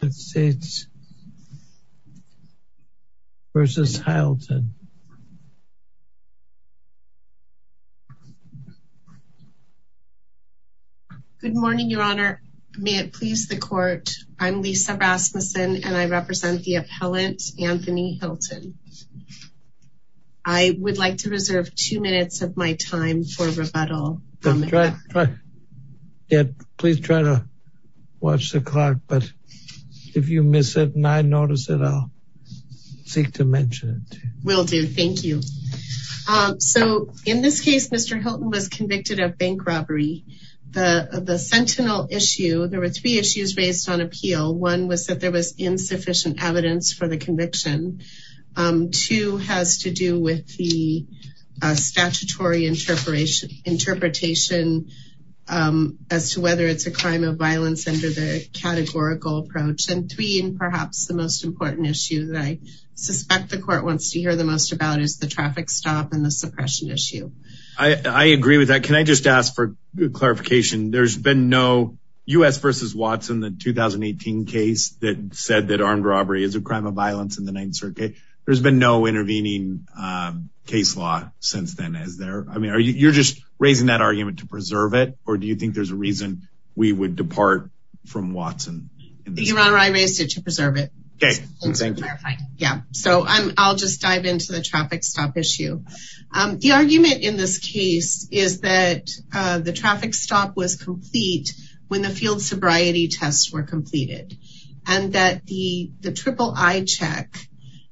Good morning, your honor. May it please the court. I'm Lisa Rasmussen and I represent the appellant Anthony Hylton. I would like to reserve two minutes of my time for rebuttal. Please try to watch the clock, but if you miss it and I notice it, I'll seek to mention it. Will do, thank you. So in this case, Mr. Hylton was convicted of bank robbery. The sentinel issue, there were three issues raised on appeal. One was that there was insufficient evidence for the conviction. Two has to do with the statutory interpretation as to whether it's a crime of violence under the categorical approach. And three, and perhaps the most important issue that I suspect the court wants to hear the most about is the traffic stop and the suppression issue. I agree with that. Can I just ask for clarification? There's been said that armed robbery is a crime of violence in the ninth circuit. There's been no intervening case law since then, is there? I mean, you're just raising that argument to preserve it, or do you think there's a reason we would depart from Watson? Your honor, I raised it to preserve it. Okay, thank you. Yeah, so I'll just dive into the traffic stop issue. The argument in this case is that the traffic stop was complete when the field sobriety tests were completed, and that the triple eye check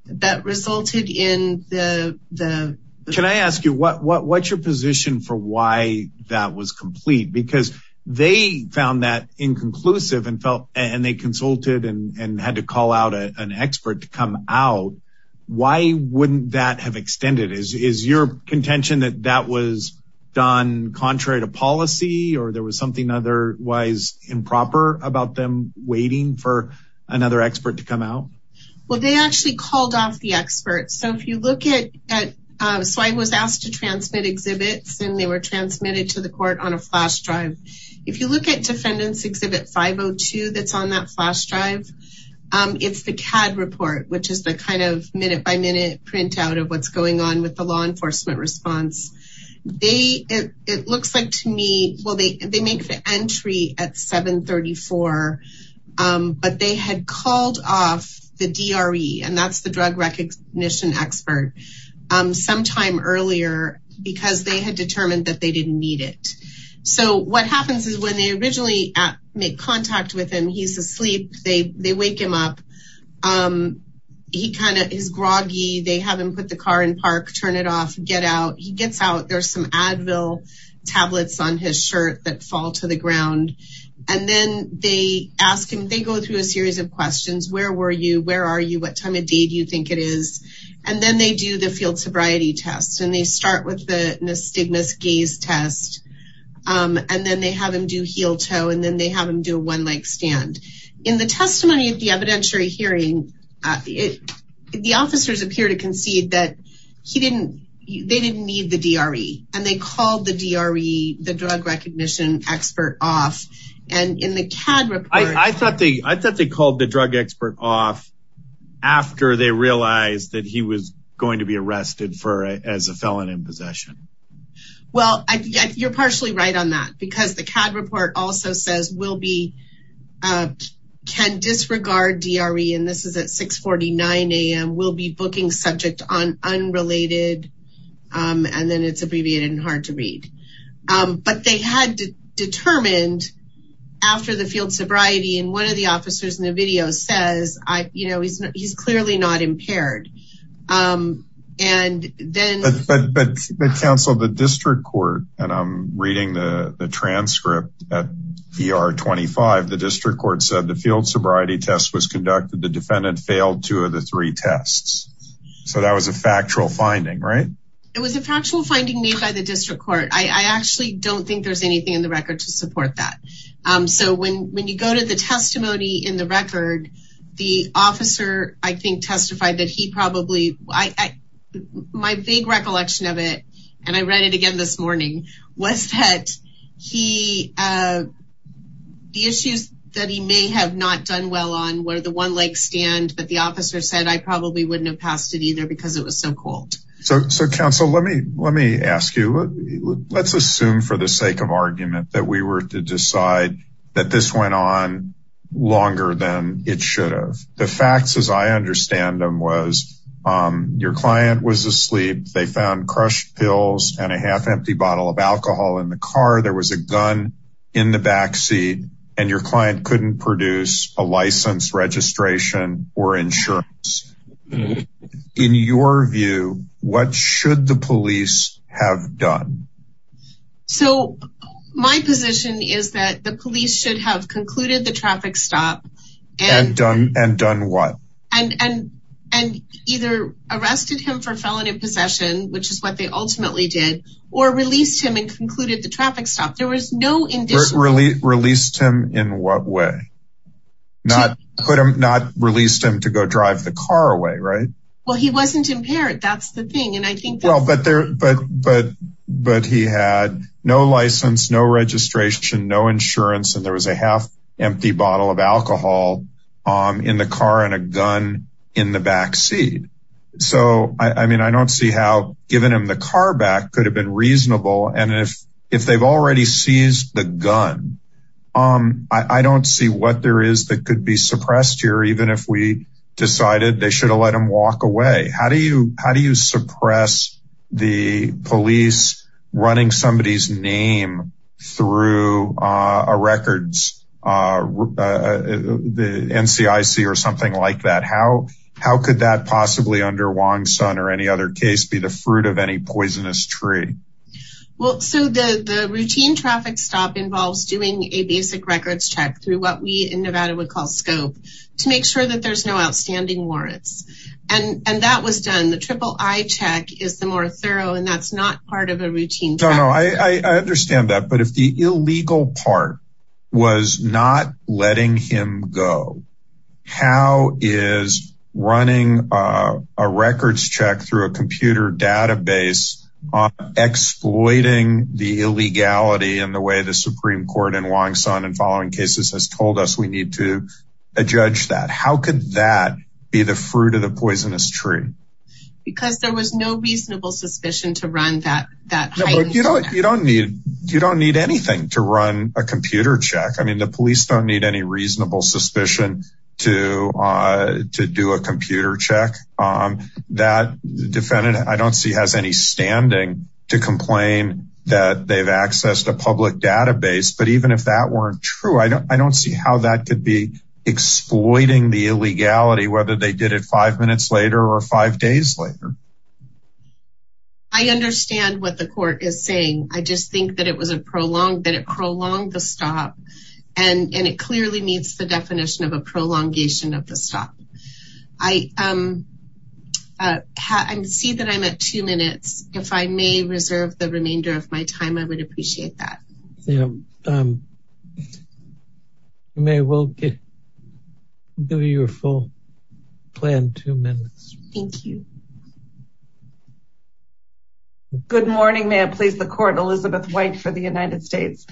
that resulted in the... Can I ask you what's your position for why that was complete? Because they found that inconclusive and felt, and they consulted and had to call out an expert to come out. Why wouldn't that have extended? Is your contention that that was done contrary to policy, or there was otherwise improper about them waiting for another expert to come out? Well, they actually called off the experts. So if you look at... So I was asked to transmit exhibits and they were transmitted to the court on a flash drive. If you look at defendants exhibit 502 that's on that flash drive, it's the CAD report, which is the kind of minute by minute printout of what's going on with the law entry at 734. But they had called off the DRE, and that's the drug recognition expert sometime earlier, because they had determined that they didn't need it. So what happens is when they originally make contact with him, he's asleep, they wake him up. He kind of is groggy, they have him put the car in park, turn it off, get out. He gets out, there's some Advil tablets on his shirt that fall to the ground. And then they ask him, they go through a series of questions. Where were you? Where are you? What time of day do you think it is? And then they do the field sobriety test, and they start with the nystigmus gaze test. And then they have him do heel toe, and then they have him do a one leg stand. In the testimony at the evidentiary hearing, the officers appear to concede that they didn't need the DRE, and they called the DRE, the drug recognition expert off. And in the CAD report... I thought they called the drug expert off after they realized that he was going to be arrested as a felon in possession. Well, you're partially right on that, because the CAD report also says, will be, can disregard DRE, and this is at 649 a.m., will be booking subject on unrelated, and then it's abbreviated and hard to read. But they had determined after the field sobriety, and one of the officers in the video says, he's clearly not impaired. And then... But counsel, the district court, and I'm reading the transcript at ER25, the district court said, the field sobriety test was conducted, the defendant failed two of the three tests. So that was a factual finding, right? It was a factual finding made by the district court. I actually don't think there's anything in the record to support that. So when you go to the testimony in the record, the officer, I think, testified that he probably... My vague recollection of it, and I read it again this morning, was that the issues that he may have not done well on, where the one leg stand, but the officer said, I probably wouldn't have passed it either, because it was so cold. So counsel, let me ask you, let's assume for the sake of argument that we were to decide that this went on longer than it should have. The facts, as I understand them, was your client was asleep, they found crushed pills and a half empty bottle of alcohol in the car, there was a gun in the backseat, and your client couldn't produce a license, registration, or insurance. In your view, what should the police have done? So my position is that the police should have concluded the traffic stop, and done what? And either arrested him for felony possession, which is what they ultimately did, or released him and concluded the traffic stop, there was no... Released him in what way? Not released him to go drive the car away, right? Well, he wasn't impaired, that's the thing. But he had no license, no registration, no insurance, and there was a half bottle of alcohol in the car and a gun in the backseat. So, I mean, I don't see how giving him the car back could have been reasonable. And if they've already seized the gun, I don't see what there is that could be suppressed here, even if we decided they should have let him walk away. How do you suppress the police running somebody's name through a records, the NCIC or something like that? How could that possibly, under Wong Sun or any other case, be the fruit of any poisonous tree? Well, so the routine traffic stop involves doing a basic records check through what we in Nevada would call scope, to make sure that there's no outstanding warrants. And that was done, the triple eye check is the more thorough and that's not part of a routine. No, no, I understand that. But if the illegal part was not letting him go, how is running a records check through a computer database exploiting the illegality in the way the Supreme Court and Wong Sun and following cases has told us we need to judge that? How could that be the fruit of the poisonous tree? Because there was no reasonable suspicion to run that. You don't need anything to run a computer check. I mean, the police don't need any reasonable suspicion to do a computer check. That defendant I don't see has any standing to complain that they've accessed a public database. But even if that weren't true, I don't see how that could be whether they did it five minutes later, or five days later. I understand what the court is saying. I just think that it was a prolonged that it prolonged the stop. And it clearly meets the definition of a prolongation of the stop. I see that I'm at two minutes, if I may reserve the remainder of my time, I would appreciate that. Yeah. May we'll give you your full plan two minutes. Thank you. Good morning, may it please the court Elizabeth White for the United States.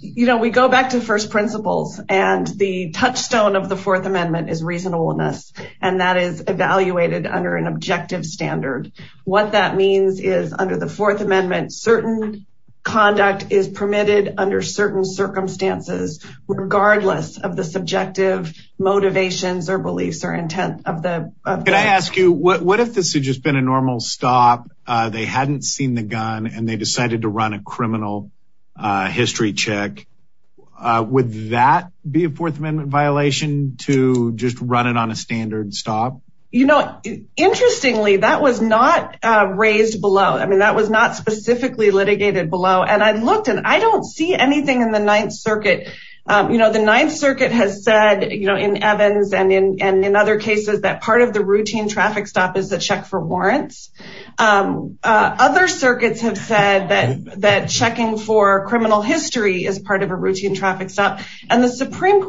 You know, we go back to first principles, and the touchstone of the Fourth Amendment is reasonableness. And that is evaluated under an objective standard. What that means is under the Fourth Amendment, certain conduct is permitted under certain circumstances, regardless of the subjective motivations or beliefs or intent of the Can I ask you what if this had just been a normal stop? They hadn't seen the gun and they decided to run a criminal history check? Would that be a Fourth Amendment violation to just run it on a standard stop? You know, interestingly, that was not raised below. I mean, that was not specifically litigated below and I looked and I don't see anything in the Ninth Circuit. You know, the Ninth Circuit has said, you know, in Evans and in and in other cases that part of the routine traffic stop is the check for warrants. Other circuits have said that that checking for criminal history is part of a routine traffic stop. And the Supreme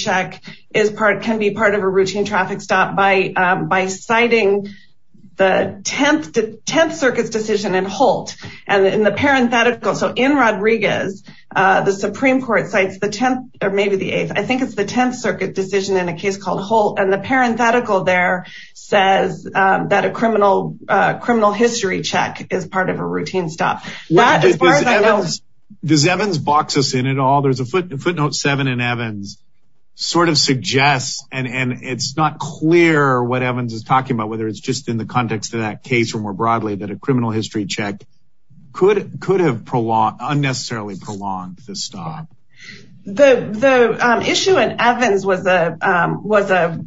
check is part can be part of a routine traffic stop by by citing the 10th 10th Circus decision and Holt and in the parenthetical. So in Rodriguez, the Supreme Court cites the 10th or maybe the eighth I think it's the 10th Circuit decision in a case called Holt and the parenthetical there says that a criminal criminal history check is part of a routine stop. As far as I know, does Evans box us in at all? There's a footnote seven in Evans sort of suggests and and it's not clear what Evans is talking about whether it's just in the context of that case or more broadly that a criminal history check could could have prolonged unnecessarily prolonged the stop. The the issue in Evans was a was a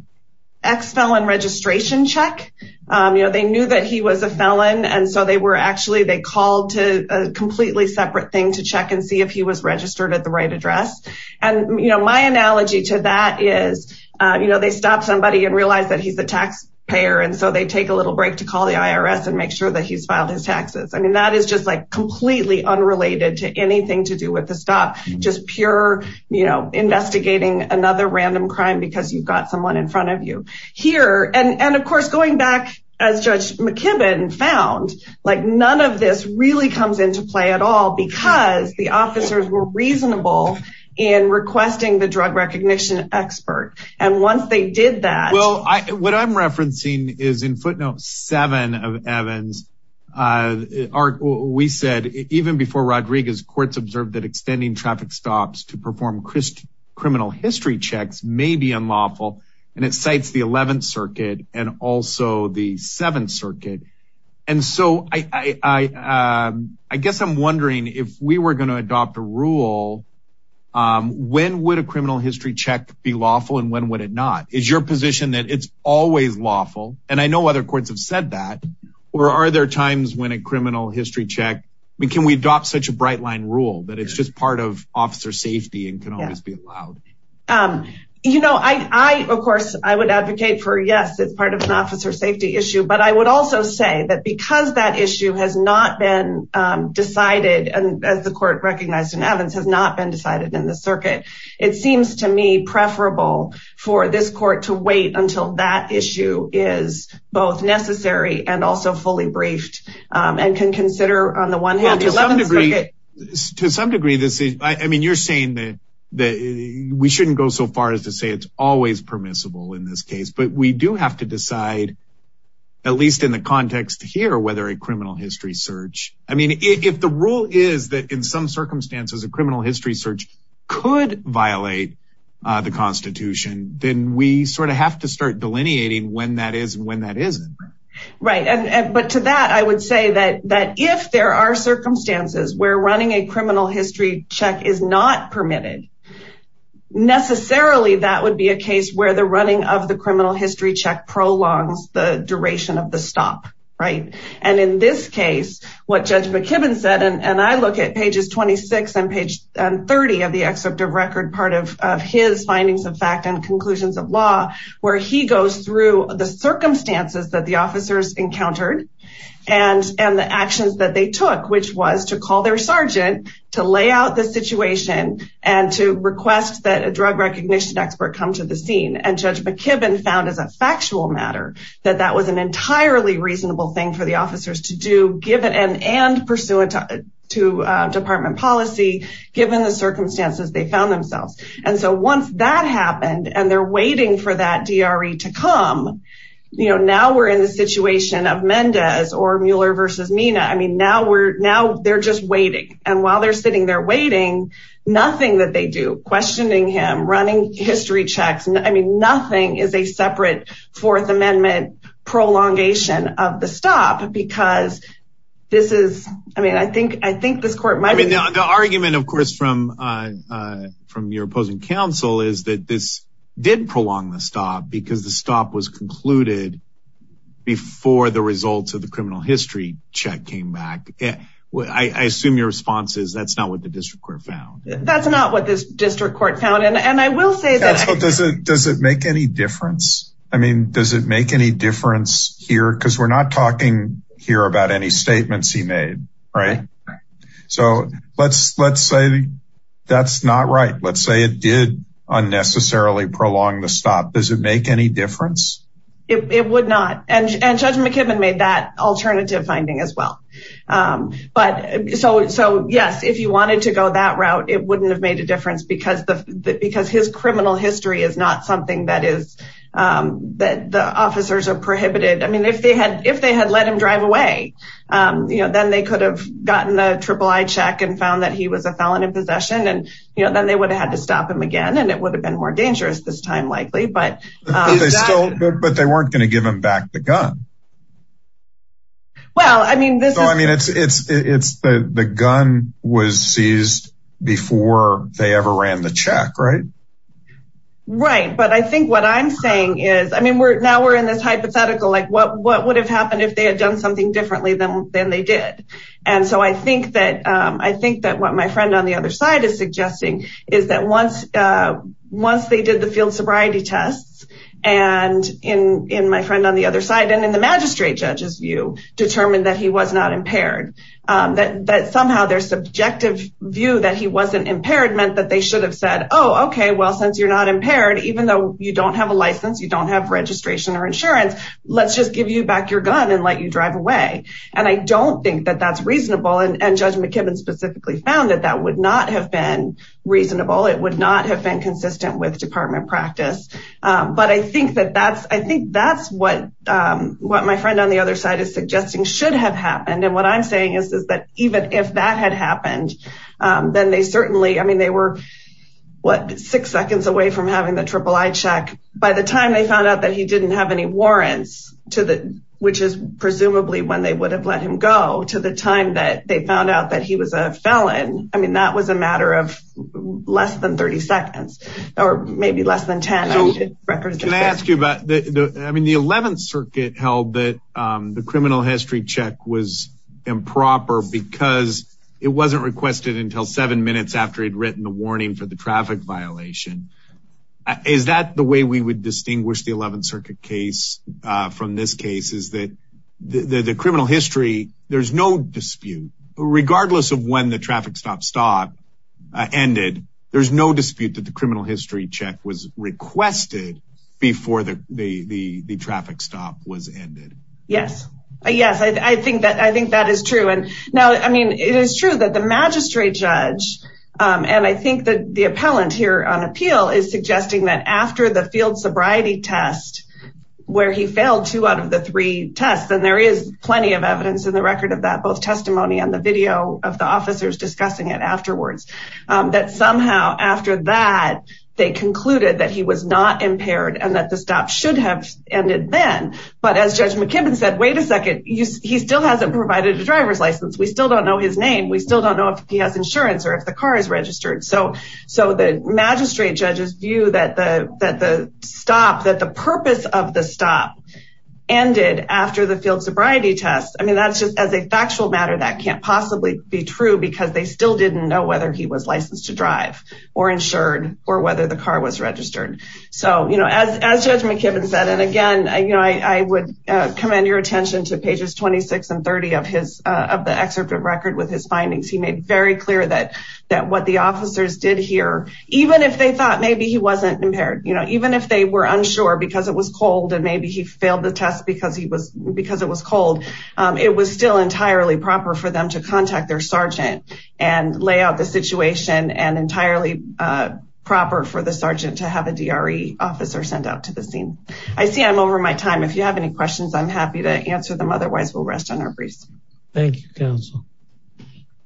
ex-felon registration check. You know, they knew that he was a felon. And so they were actually they called to a completely separate thing to check and see if he was registered at the right address. And, you know, my analogy to that is, you know, they stop somebody and realize that he's the taxpayer. And so they take a little break to call the IRS and make sure that he's filed his taxes. I mean, that is just like completely unrelated to anything to do with the stop, just pure, you know, investigating another random crime because you've got someone in front of you here. And of course, going back, as Judge McKibben found, like none of this really comes into play at all because the officers were reasonable in requesting the drug recognition expert. And once they did that, well, I what I'm referencing is in footnote seven of Evans are we said even before Rodriguez courts observed that extending traffic stops to and it cites the 11th Circuit and also the 7th Circuit. And so I guess I'm wondering if we were going to adopt a rule. When would a criminal history check be lawful and when would it not? Is your position that it's always lawful? And I know other courts have said that. Or are there times when a criminal history check we can we adopt such a bright line rule that it's just part of I, of course, I would advocate for Yes, it's part of an officer safety issue. But I would also say that because that issue has not been decided, and as the court recognized in Evans has not been decided in the circuit, it seems to me preferable for this court to wait until that issue is both necessary and also fully briefed and can consider on the one hand, to some degree, this is I mean, you're saying that, that we shouldn't go so far as to say it's always permissible in this case, but we do have to decide, at least in the context here, whether a criminal history search, I mean, if the rule is that in some circumstances, a criminal history search could violate the Constitution, then we sort of have to start delineating when that is when that isn't. Right. And but to that, I would say that that if there are circumstances where running a criminal history check is not permitted, necessarily, that would be a case where the running of the criminal history check prolongs the duration of the stop, right. And in this case, what Judge McKibben said, and I look at pages 26, and page 30 of the excerpt of record part of his findings of fact and conclusions of law, where he goes through the circumstances that the officers encountered, and and the actions that they took, which was to call their sergeant to lay out the situation and to request that a drug recognition expert come to the scene and Judge McKibben found as a factual matter, that that was an entirely reasonable thing for the officers to do given and and pursuant to department policy, given the circumstances they found themselves. And so once that happened, and they're waiting for that DRE to come, you know, now we're in the situation of Mendez or Mueller versus Mina. I mean, now we're now they're just waiting. And while they're sitting there waiting, nothing that they do questioning him running history checks. And I mean, nothing is a separate Fourth Amendment prolongation of the stop because this is I mean, I think I think the argument of course, from from your opposing counsel is that this did prolong the stop because the stop was concluded before the results of the criminal history check came back. I assume your response is that's not what the district court found. That's not what this district court found. And I will say that does it does it make any difference? I mean, does it make any difference here? Because we're not talking here about any statements he made, right? So let's let's say that's not right. Let's say it did unnecessarily prolong the stop. Does it make any difference? It would not. And Judge McKibben made that alternative finding as well. But so so yes, if you wanted to go that route, it wouldn't have made a difference because the because his criminal history is not something that is that the officers are prohibited. I mean, if they had if they had let him drive away, you know, then they could have gotten the triple I check and found that he was a felon in possession. And, you know, then they would have had to stop him again. And it would have been more dangerous this time likely, but but they weren't going to give him back the gun. Well, I mean, this is I mean, it's it's it's the gun was seized before they ever ran the check, right? Right. But I think what I'm saying is, I mean, we're now we're in this hypothetical, like what what would have happened if they had done something differently than than they did? And so I think that I think that what my friend on the other side is suggesting is that once once they did the field sobriety tests, and in in my friend on the other side, and in the magistrate judges view, determined that he was not impaired, that somehow their subjective view that he wasn't impaired meant that they should have said, Oh, okay, well, since you're not impaired, even though you don't have a license, you don't have registration or insurance, let's just give you back your gun and let you drive away. And I don't think that that's reasonable. And Judge McKibben specifically found that that would not have been reasonable, it would not have been consistent with department practice. But I think that that's, I think that's what what my friend on the other side is suggesting should have happened. And what I'm saying is, is that even if that had happened, then they certainly I mean, they were what six seconds away from having the triple I check by the time they found out that he didn't have any warrants to the which is presumably when they would have let him go to the time that they found out that he was a felon. I mean, that was a matter of less than 30 seconds, or maybe less than 10. Can I ask you about the I mean, the 11th Circuit held that the criminal history check was improper because it wasn't requested until seven minutes after he'd written the warning for the traffic violation. Is that the way we would distinguish the 11th Circuit case from this case is that the criminal history, there's no dispute, regardless of when the traffic stop stop ended. There's no dispute that the criminal history check was requested before the traffic stop was ended. Yes, yes, I think that I think that is true. And now I mean, it is true that the magistrate judge, and I think that the appellant here on appeal is suggesting that after the field sobriety test, where he failed two out of the three tests, and there is plenty of evidence in the record of that both testimony on the video of the officers discussing it afterwards, that somehow after that, they concluded that he was not impaired and that the stop should have ended then. But as Judge McKibben said, Wait a second, he still hasn't provided a driver's license. We still don't know his name. We still don't know if he has insurance or if the car is that the stop that the purpose of the stop ended after the field sobriety test. I mean, that's just as a factual matter that can't possibly be true, because they still didn't know whether he was licensed to drive or insured or whether the car was registered. So, you know, as Judge McKibben said, and again, you know, I would commend your attention to pages 26 and 30 of his of the excerpt of record with his findings, he made very clear that that what the officers did here, even if they thought maybe he wasn't impaired, you know, even if they were unsure, because it was cold, and maybe he failed the test because he was because it was cold. It was still entirely proper for them to contact their sergeant and lay out the situation and entirely proper for the sergeant to have a DRE officer sent out to the scene. I see I'm over my time. If you have any questions, I'm happy to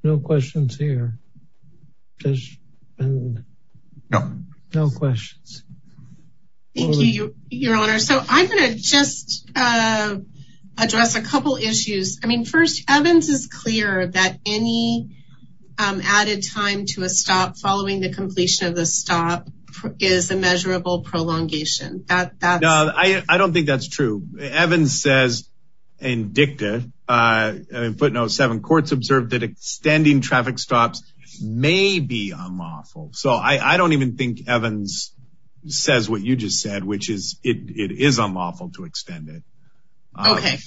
No questions. Thank you, Your Honor. So I'm going to just address a couple issues. I mean, first, Evans is clear that any added time to a stop following the completion of the stop is a measurable prolongation that that I don't think that's true. Evans says, and dicta put no seven courts observed that extending traffic stops may be unlawful. So I don't even think Evans says what you just said, which is it is unlawful to extend it. Okay.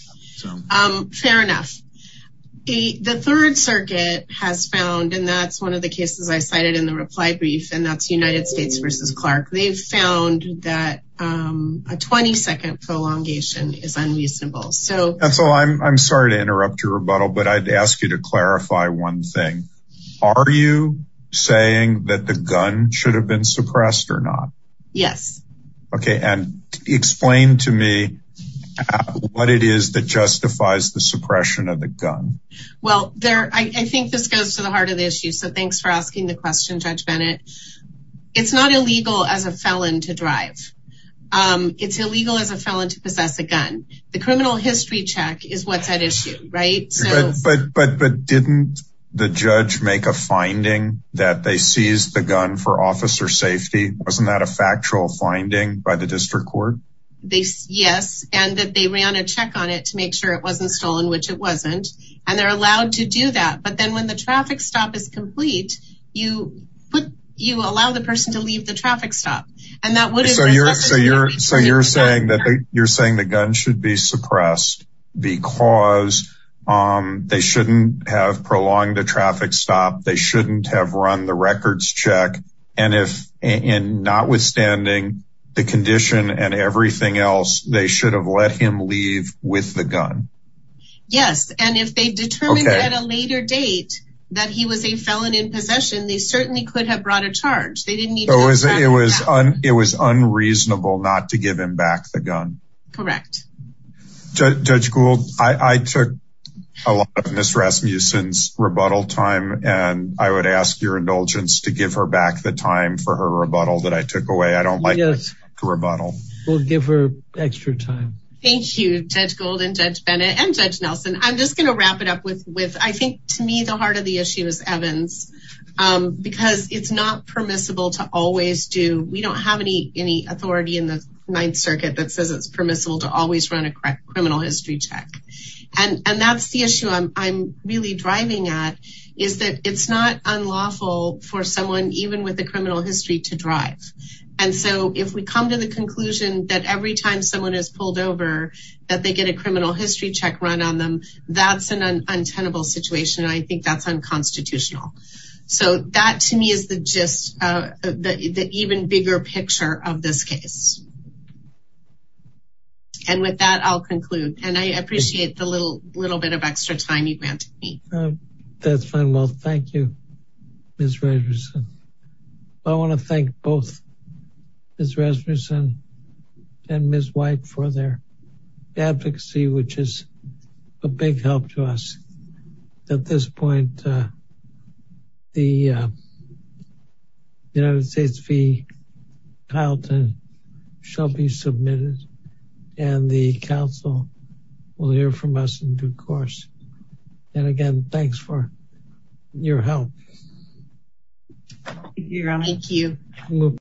Fair enough. The Third Circuit has found and that's one of the cases I cited in the reply brief, and that's United States versus Clark, they've found that a 20 second prolongation is unreasonable. So that's all I'm sorry to interrupt your rebuttal. But I'd ask you to clarify one thing. Are you saying that the gun should have been suppressed or not? Yes. Okay. And explain to me what it is that justifies the suppression of the gun? Well, there I think this goes to the heart of the issue. So thanks for asking the question, Judge Bennett. It's not illegal as a felon to drive. It's illegal as a felon to possess a gun. The criminal history check is what's at issue, right? But didn't the judge make a finding that they seized the gun for officer safety? Wasn't that a factual finding by the district court? Yes, and that they ran a check on it to make sure it wasn't stolen, which it wasn't. And they're allowed to do that. But then when the traffic stop is complete, you put you allow the person to leave the traffic stop. And that would So you're saying that you're saying the gun should be suppressed, because they shouldn't have prolonged the traffic stop. They shouldn't have run the records check. And if in not withstanding the condition and everything else, they should have let him leave with the gun. Yes. And if they determined at a later date, that he was a felon in possession, they certainly could have brought a charge. It was unreasonable not to give him back the gun. Correct. Judge Gould, I took a lot of Ms. Rasmussen's rebuttal time, and I would ask your indulgence to give her back the time for her rebuttal that I took away. I don't like to rebuttal. We'll give her extra time. Thank you, Judge Gould and Judge Bennett and Judge Nelson. I'm just going to wrap it up with I think to me, the heart of the issue is Evans, because it's not permissible to always do. We don't have any authority in the Ninth Circuit that says it's permissible to always run a criminal history check. And that's the issue I'm really driving at is that it's not unlawful for someone even with a criminal history to drive. And so if we come to the conclusion that every time someone is pulled over, that they get a criminal history check run on them, that's an unrepentable situation. I think that's unconstitutional. So that to me is the even bigger picture of this case. And with that, I'll conclude. And I appreciate the little bit of extra time you granted me. That's fine. Well, thank you, Ms. Rasmussen. I want to thank both Ms. Rasmussen and Ms. White for their advocacy, which is a big help to us. At this point, the United States v. Carlton shall be submitted, and the Council will hear from us in due course. And again, thanks for your help. Thank you.